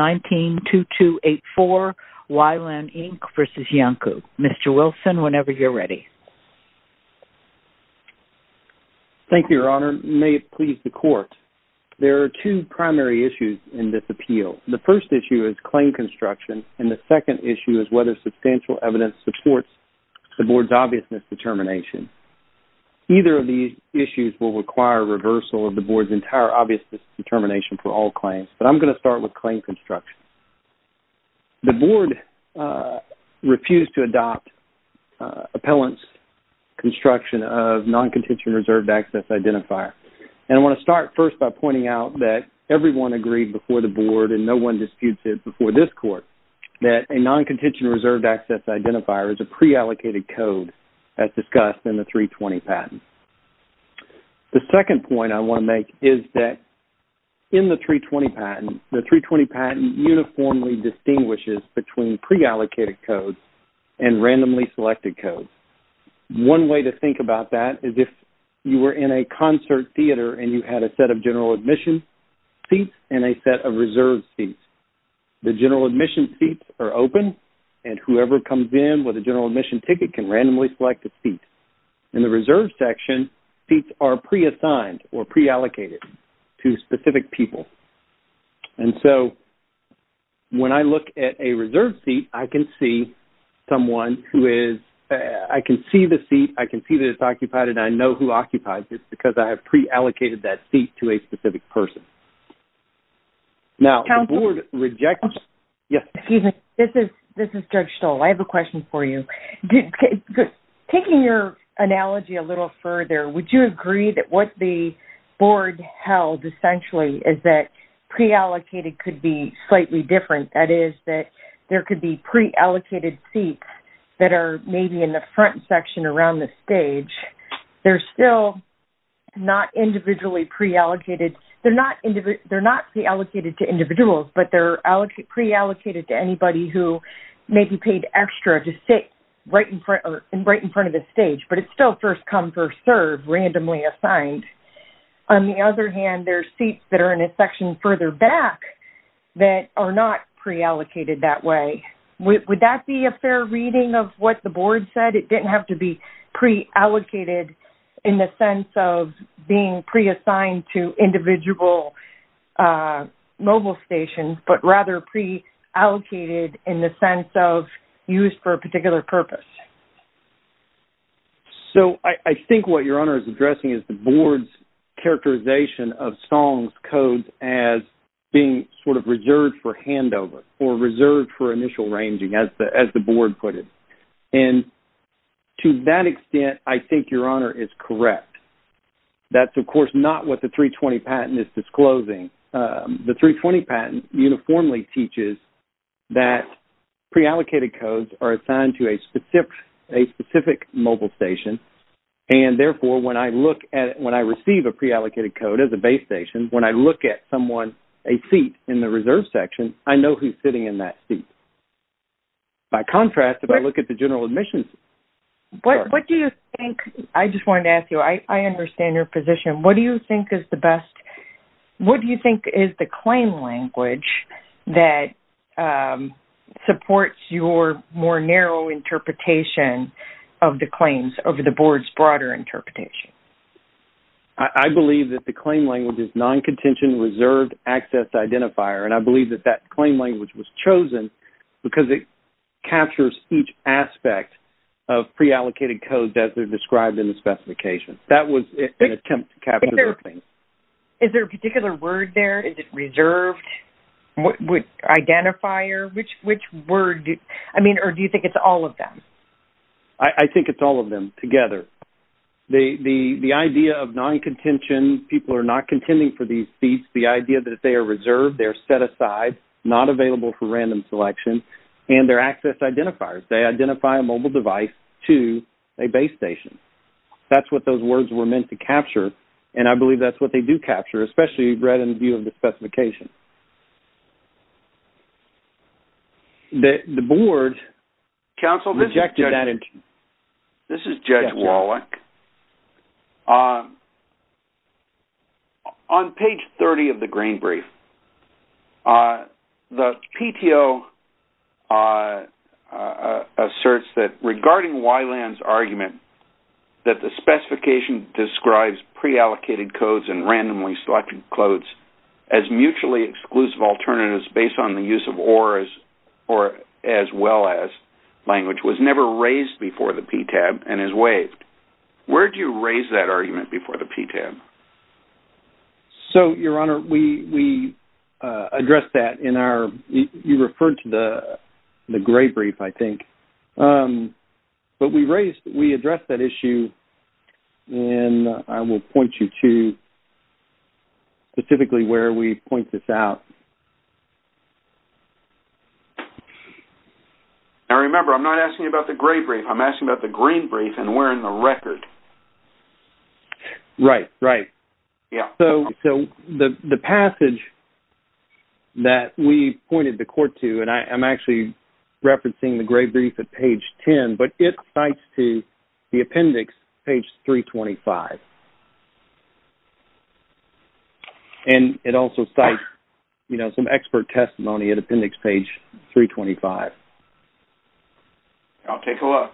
192284 We-LAN Inc. v. Iancu. Mr. Wilson, whenever you're ready. Thank you, Your Honor. May it please the Court. There are two primary issues in this appeal. The first issue is claim construction, and the second issue is whether substantial evidence supports the Board's obviousness determination. Either of these issues will require reversal of the Board's entire obviousness determination for all claims, but I'm going to start with claim construction. The Board refused to adopt appellant's construction of non-contention reserved access identifier. I want to start first by pointing out that everyone agreed before the Board, and no one disputes it before this Court, that a non-contention reserved access identifier is a pre-allocated code as discussed in the 320 patent. The second point I want to make is that in the 320 patent, the 320 patent uniformly distinguishes between pre-allocated codes and randomly selected codes. One way to think about that is if you were in a concert theater and you had a set of general admission seats and a set of reserved seats. The general admission seats are open, and whoever comes in with a general admission ticket can randomly select a seat. In the reserved section, seats are pre-assigned or pre-allocated to specific people. And so when I look at a reserved seat, I can see someone who is, I can see the seat, I can see that it's occupied, and I know who occupies it because I have pre-allocated that seat to a specific person. Now, the Board rejects... Excuse me. This is Judge Stoll. I have a question for you. Taking your analogy a little further, would you agree that what the Board held essentially is that pre-allocated could be slightly different? That is, that there could be pre-allocated seats that are maybe in the front section around the stage. They're still not individually pre-allocated. They're not pre-allocated to individuals, but they're pre-allocated to anybody who may be paid extra to sit right in front of the stage, but it's still first come, first serve, randomly assigned. On the other hand, there are seats that are in a section further back that are not pre-allocated that way. Would that be a fair reading of what the Board said? It didn't have to be pre-allocated in the sense of being pre-assigned to individual mobile stations, but rather pre-allocated in the sense of used for a particular purpose. So, I think what your Honor is addressing is the Board's characterization of Stoll's codes as being sort of reserved for handover or reserved for initial ranging, as the Board put it. To that extent, I think your Honor is correct. That's, of course, not what the 320 patent is disclosing. The 320 patent uniformly teaches that pre-allocated codes are assigned to a specific mobile station. Therefore, when I receive a pre-allocated code as a base station, when I look at someone, a seat in the reserved section, I know who's sitting in that seat. By contrast, if I look at the general admissions... What do you think... I just wanted to ask you. I understand your position. What do you think is the best... What do you think is the claim language that supports your more narrow interpretation of the claims over the Board's broader interpretation? I believe that the claim language is non-contention, reserved, access, identifier. And I believe that that claim language was chosen because it captures each aspect of pre-allocated codes as they're described in the specification. That was an attempt to capture those things. Is there a particular word there? Is it reserved? Identifier? Which word? I mean, or do you think it's all of them? I think it's all of them together. The idea of non-contention, people are not contending for these seats. The idea that they are reserved, they're set aside, not available for random selection. And they're access identifiers. They identify a mobile device to a base station. That's what those words were meant to capture. And I believe that's what they do capture, especially read in view of the specification. The Board rejected that interpretation. Counsel, this is Judge Wallach. On page 30 of the Green Brief, the PTO asserts that regarding Wyland's argument that the specification describes pre-allocated codes and randomly selected codes as mutually exclusive alternatives based on the use of OR as well as language was never raised before the PTAB and is waived. Where do you raise that argument before the PTAB? So, Your Honor, we address that in our... You referred to the Gray Brief, I think. But we addressed that issue, and I will point you to specifically where we point this out. Now, remember, I'm not asking you about the Gray Brief. I'm asking about the Green Brief and where in the record. Right, right. So, the passage that we pointed the court to, and I'm actually referencing the Gray Brief at page 10, but it cites to the appendix, page 325. And it also cites some expert testimony at appendix page 325. I'll take a look.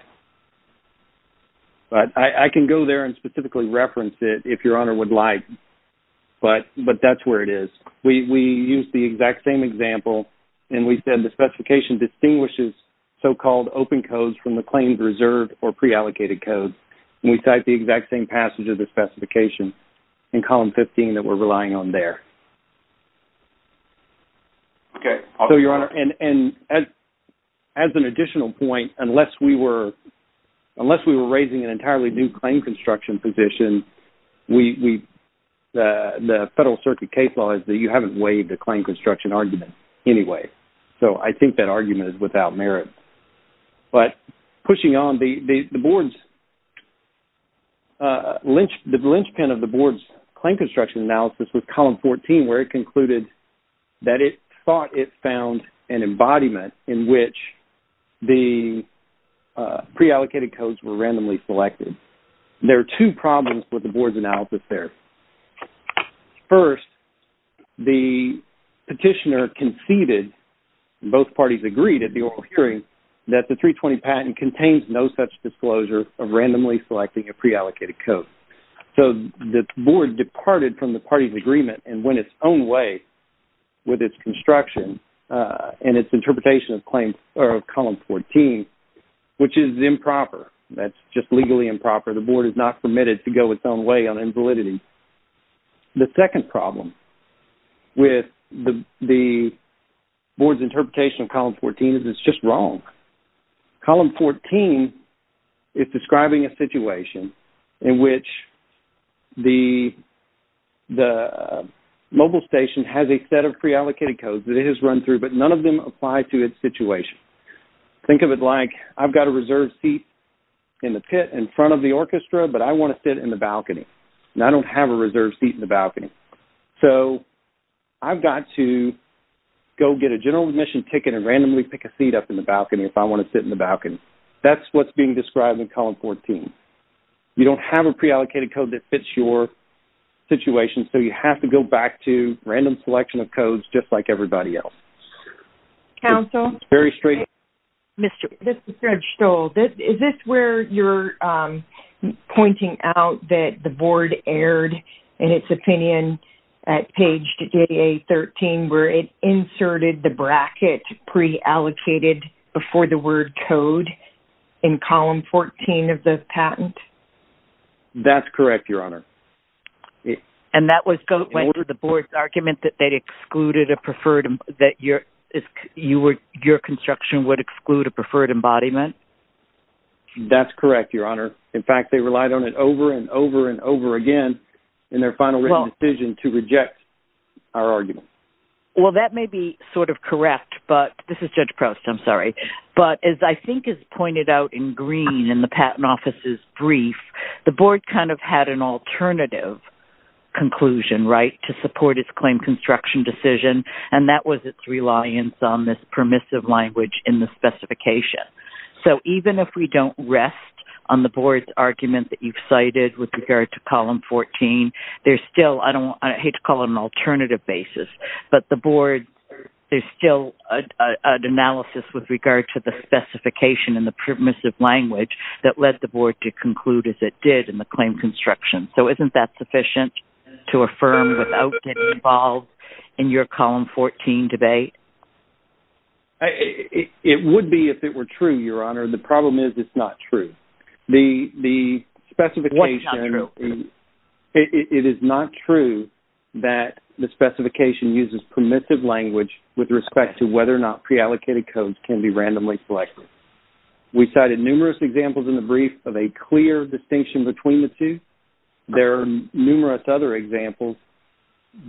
I can go there and specifically reference it if Your Honor would like, but that's where it is. We use the exact same example, and we said the specification distinguishes so-called open codes from the claims reserved or pre-allocated codes. And we cite the exact same passage of the specification in column 15 that we're relying on there. Okay. So, Your Honor, and as an additional point, unless we were raising an entirely new claim construction position, the Federal Circuit case law is that you haven't waived the claim construction argument anyway. So, I think that argument is without merit. But pushing on, the board's, the linchpin of the board's claim construction analysis was column 14, where it concluded that it thought it found an embodiment in which the There are two problems with the board's analysis there. First, the petitioner conceded, both parties agreed at the oral hearing, that the 320 patent contains no such disclosure of randomly selecting a pre-allocated code. So, the board departed from the party's agreement and went its own way with its construction and its interpretation of column 14, which is improper. That's just legally improper. The board is not permitted to go its own way on invalidity. The second problem with the board's interpretation of column 14 is it's just wrong. Column 14 is describing a situation in which the mobile station has a set of pre-allocated codes that it has run through, but none of them apply to its situation. Think of it like I've got a reserved seat in the pit in front of the orchestra, but I want to sit in the balcony, and I don't have a reserved seat in the balcony. So, I've got to go get a general admission ticket and randomly pick a seat up in the balcony if I want to sit in the balcony. That's what's being described in column 14. You don't have a pre-allocated code that fits your situation, so you have to go back to like everybody else. Counsel? Mr. Stoltz, is this where you're pointing out that the board erred in its opinion at page 13 where it inserted the bracket pre-allocated before the word code in column 14 of the patent? That's correct, Your Honor. And that went to the board's argument that your construction would exclude a preferred embodiment? That's correct, Your Honor. In fact, they relied on it over and over and over again in their final written decision to reject our argument. Well, that may be sort of correct, but as I think is pointed out in green in the patent there was an alternative conclusion, right, to support its claim construction decision and that was its reliance on this permissive language in the specification. So, even if we don't rest on the board's argument that you've cited with regard to column 14, there's still, I hate to call it an alternative basis, but the board, there's still an analysis with regard to the specification in the permissive language that led the board to conclude as it did in the claim construction. So, isn't that sufficient to affirm without getting involved in your column 14 debate? It would be if it were true, Your Honor. The problem is it's not true. What's not true? It is not true that the specification uses permissive language with respect to whether or not pre-allocated codes can be randomly selected. We cited numerous examples in the board that show a clear distinction between the two. There are numerous other examples,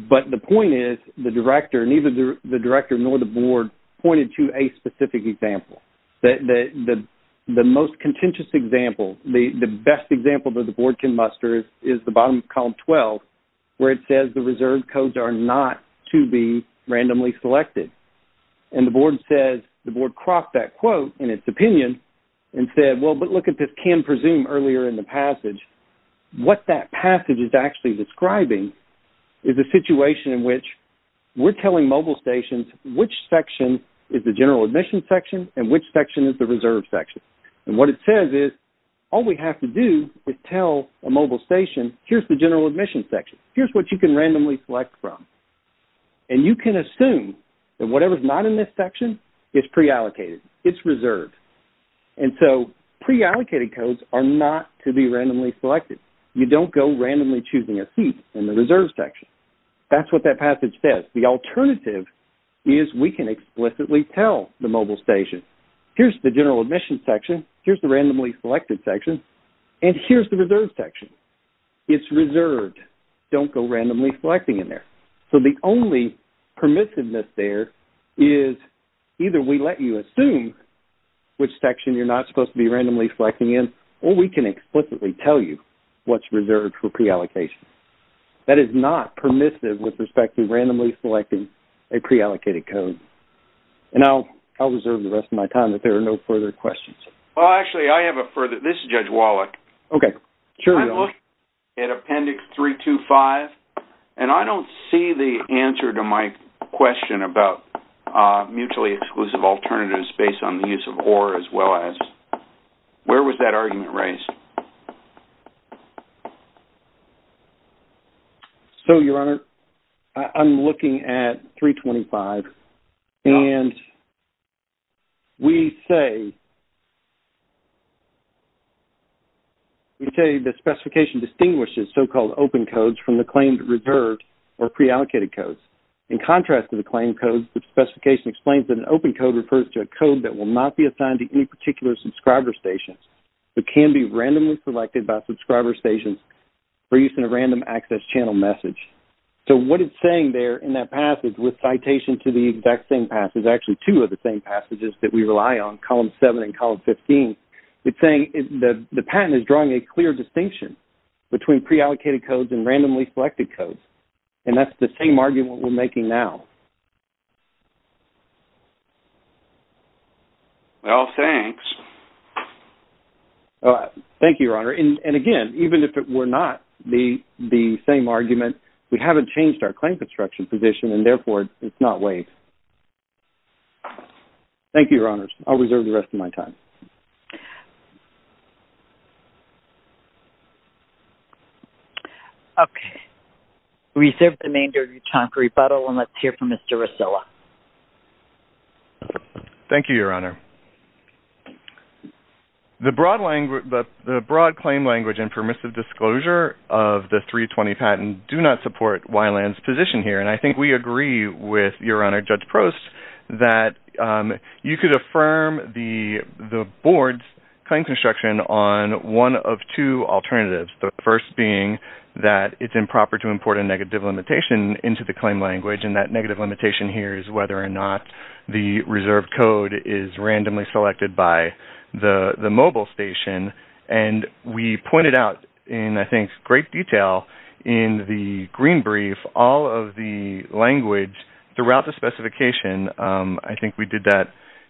but the point is the director, neither the director nor the board pointed to a specific example. The most contentious example, the best example that the board can muster is the bottom of column 12 where it says the reserved codes are not to be randomly selected. And the board says, the board crossed that quote in its opinion and said, well, but look at this can presume earlier in the passage. What that passage is actually describing is a situation in which we're telling mobile stations which section is the general admission section and which section is the reserved section. And what it says is all we have to do is tell a mobile station, here's the general admission section. Here's what you can randomly select from. And you can assume that whatever's not in this section is pre-allocated. It's reserved. And so pre-allocated codes are not to be randomly selected. You don't go randomly choosing a seat in the reserved section. That's what that passage says. The alternative is we can explicitly tell the mobile station, here's the general admission section. Here's the randomly selected section. And here's the reserved section. It's reserved. Don't go randomly selecting in there. So the only permissiveness there is either we let you assume which section you're not supposed to be randomly selecting in or we can explicitly tell you what's reserved for pre-allocation. That is not permissive with respect to randomly selecting a pre-allocated code. And I'll reserve the rest of my time if there are no further questions. Well, actually, I have a further... This is Judge Wallach. Okay. Sure, Your Honor. I'm looking at Appendix 325, and I don't see the answer to my question about mutually exclusive alternatives based on the use of or as well as... Where was that argument raised? So, Your Honor, I'm looking at 325, and we say... We say the specification distinguishes so-called open codes from the claimed reserved or pre-allocated codes. In contrast to the claimed codes, the specification explains that an open code refers to a code that will not be assigned to any particular subscriber station but can be randomly selected by subscriber stations for use in a random access channel message. So what it's saying there in that passage with citation to the exact same passage, actually two of the same passages that we rely on, Column 7 and Column 15, it's saying the patent is drawing a clear distinction between pre-allocated codes and randomly selected codes. And that's the same argument we're making now. Well, thanks. Thank you, Your Honor. And again, even if it were not the same argument, we haven't changed our claim construction position, and therefore, it's not waived. Thank you, Your Honors. I'll reserve the rest of my time. Okay. We reserve the remainder of your time for rebuttal, and let's hear from Mr. Rosillo. Thank you, Your Honor. The broad claim language and permissive disclosure of the 320 patent do not support Weiland's position here. And I think we agree with Your Honor, Judge Prost, that you could affirm the Board's claim construction on one of two alternatives, the first being that it's improper to import a negative limitation into the claim language, and that negative limitation here is whether or not the reserved code is randomly selected by the mobile station. And we pointed out in, I think, great detail in the green brief all of the language throughout the specification. I think we did that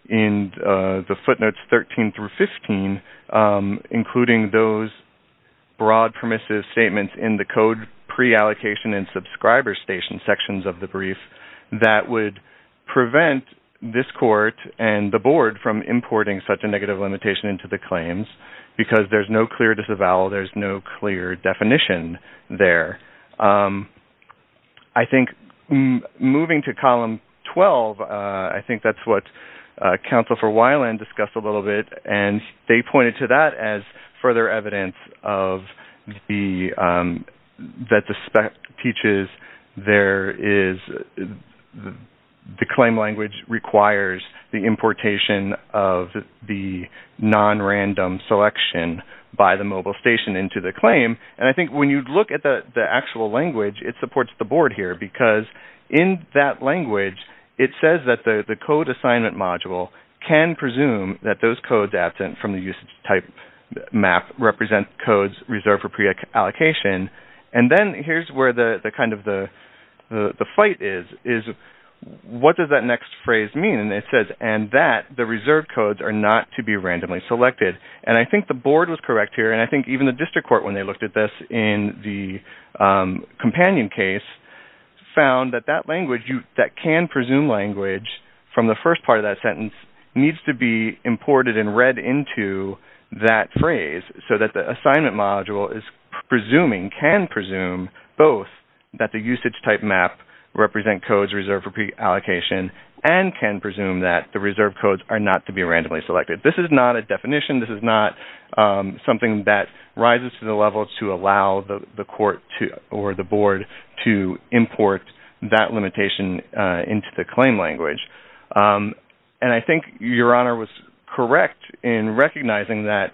in the footnotes 13 through 15, including those broad permissive statements in the code pre-allocation and subscriber station sections of the code that would prevent this Court and the Board from importing such a negative limitation into the claims because there's no clear disavowal. There's no clear definition there. I think moving to column 12, I think that's what Counsel for Weiland discussed a little bit, and they the claim language requires the importation of the nonrandom selection by the mobile station into the claim. And I think when you look at the actual language, it supports the Board here because in that language, it says that the code assignment module can presume that those codes absent from the usage type map represent codes reserved for pre-allocation. And then here's where the kind of the fight is, is what does that next phrase mean? And it says, and that the reserved codes are not to be randomly selected. And I think the Board was correct here, and I think even the District Court, when they looked at this in the companion case, found that that language, that can presume language from the first part of that sentence, needs to be can presume both that the usage type map represent codes reserved for pre-allocation and can presume that the reserved codes are not to be randomly selected. This is not a definition. This is not something that rises to the level to allow the court or the Board to import that limitation into the claim language. And I think Your Honor was correct in recognizing that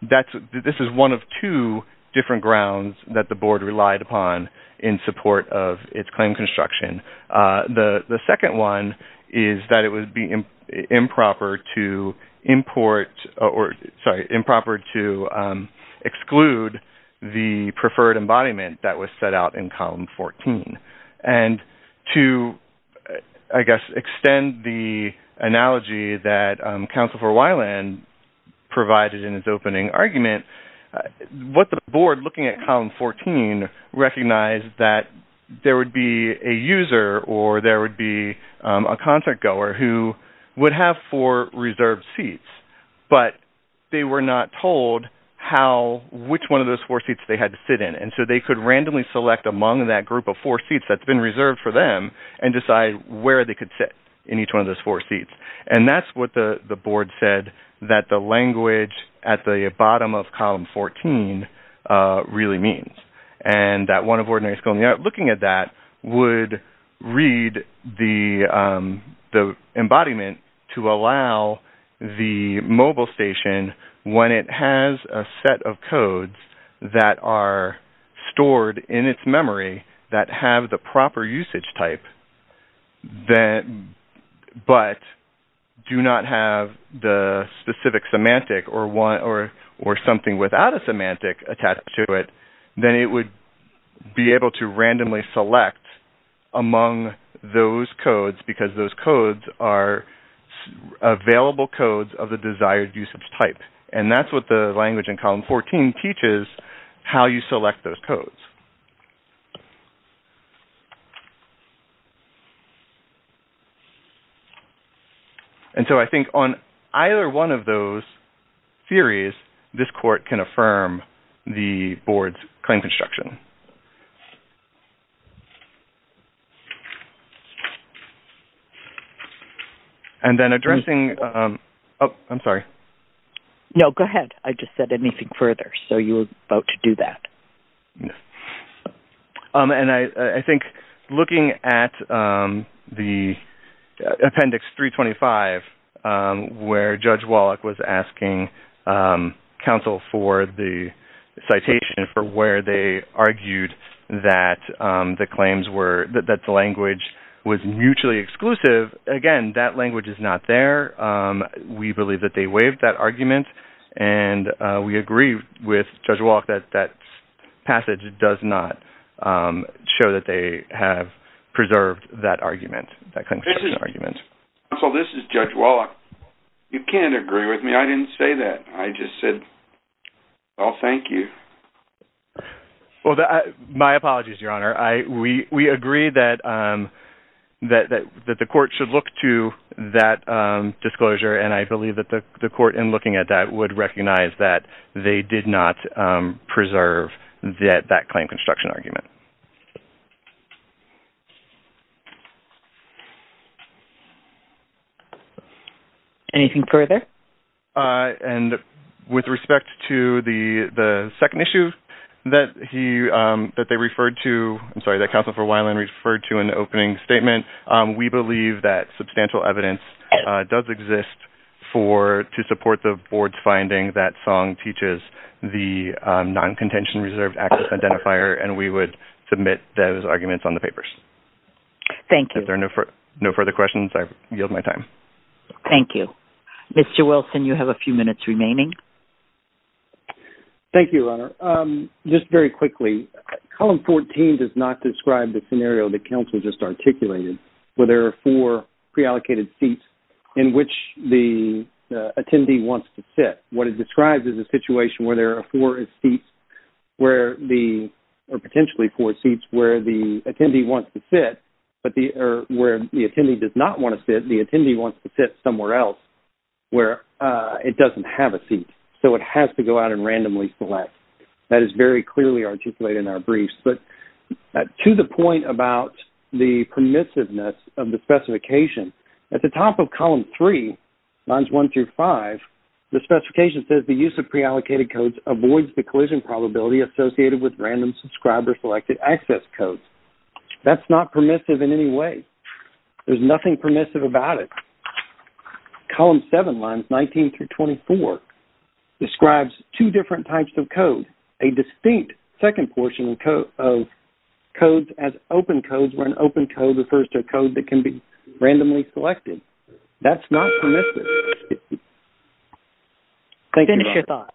this is one of two different grounds that the Board relied upon in support of its claim construction. The second one is that it would be improper to import, or sorry, improper to exclude the preferred embodiment that was set out in column 14. And to, I guess, extend the analogy that counsel for Weiland provided in his opening argument, what the Board looking at column 14 recognized that there would be a user or there would be a contract goer who would have four reserved seats, but they were not told how, which one of those four seats they had to sit in. And so they could randomly select among that group of four seats that's been reserved for them and decide where they could sit in each one of those four seats. And that's what the Board said that the language at the bottom of column 14 really means. And that one of ordinary school in New York looking at that would read the that has a set of codes that are stored in its memory that have the proper usage type, but do not have the specific semantic or something without a semantic attached to it, then it would be able to randomly select among those codes because those codes are available codes of the desired usage type. And that's what the language in column 14 teaches how you select those codes. And so I think on either one of those theories, this court can affirm the Board's claim construction. And then addressing... Oh, I'm sorry. No, go ahead. I just said anything further. So you're about to do that. And I think looking at the Appendix 325 where Judge Wallach was asking counsel for the citation for where they argued that the language was mutually exclusive, again, that language is not there. We believe that they waived that argument. And we agree with Judge Wallach that that passage does not show that they have preserved that argument, that construction argument. Counsel, this is Judge Wallach. You can't agree with me. I didn't say that. I just said, well, thank you. Well, my apologies, Your Honor. We agree that the court should look to that disclosure. And I believe that the court, in looking at that, would recognize that they did not preserve that claim construction argument. Anything further? And with respect to the second issue that they referred to, I'm sorry, that counsel for Weiland referred to in the opening statement, we believe that substantial evidence does exist to support the board's finding that Song teaches the non-contention reserved access identifier. And we would submit those arguments on the papers. Thank you. If there are no further questions, I yield my time. Thank you. Mr. Wilson, you have a few minutes remaining. Thank you, Your Honor. Just very quickly, column 14 does not describe the scenario that counsel just articulated, where there are four pre-allocated seats in which the attendee wants to sit. What it describes is a situation where there are four seats, or potentially four seats, where the attendee wants to sit. But where the attendee does not want to sit, the attendee wants to sit somewhere else where it doesn't have a seat. So it has to go out and randomly select. That is very clearly articulated in our briefs. But to the point about the permissiveness of the specification, at the top of column 3, lines 1 through 5, the specification says, the use of pre-allocated codes avoids the collision probability associated with random subscribed or selected access codes. That's not permissive in any way. There's nothing permissive about it. Column 7, lines 19 through 24, describes two different types of codes. A distinct second portion of codes as open codes, where an open code refers to a code that can be randomly selected. That's not permissive. Finish your thought.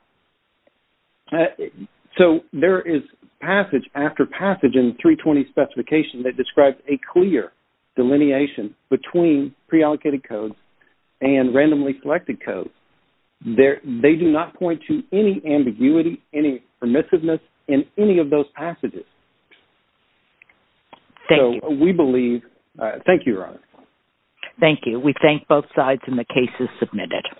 So there is passage after passage in the 320 specification that describes a clear delineation between pre-allocated codes and randomly selected codes. They do not point to any ambiguity, any permissiveness in any of those passages. Thank you. We thank both sides and the case is submitted.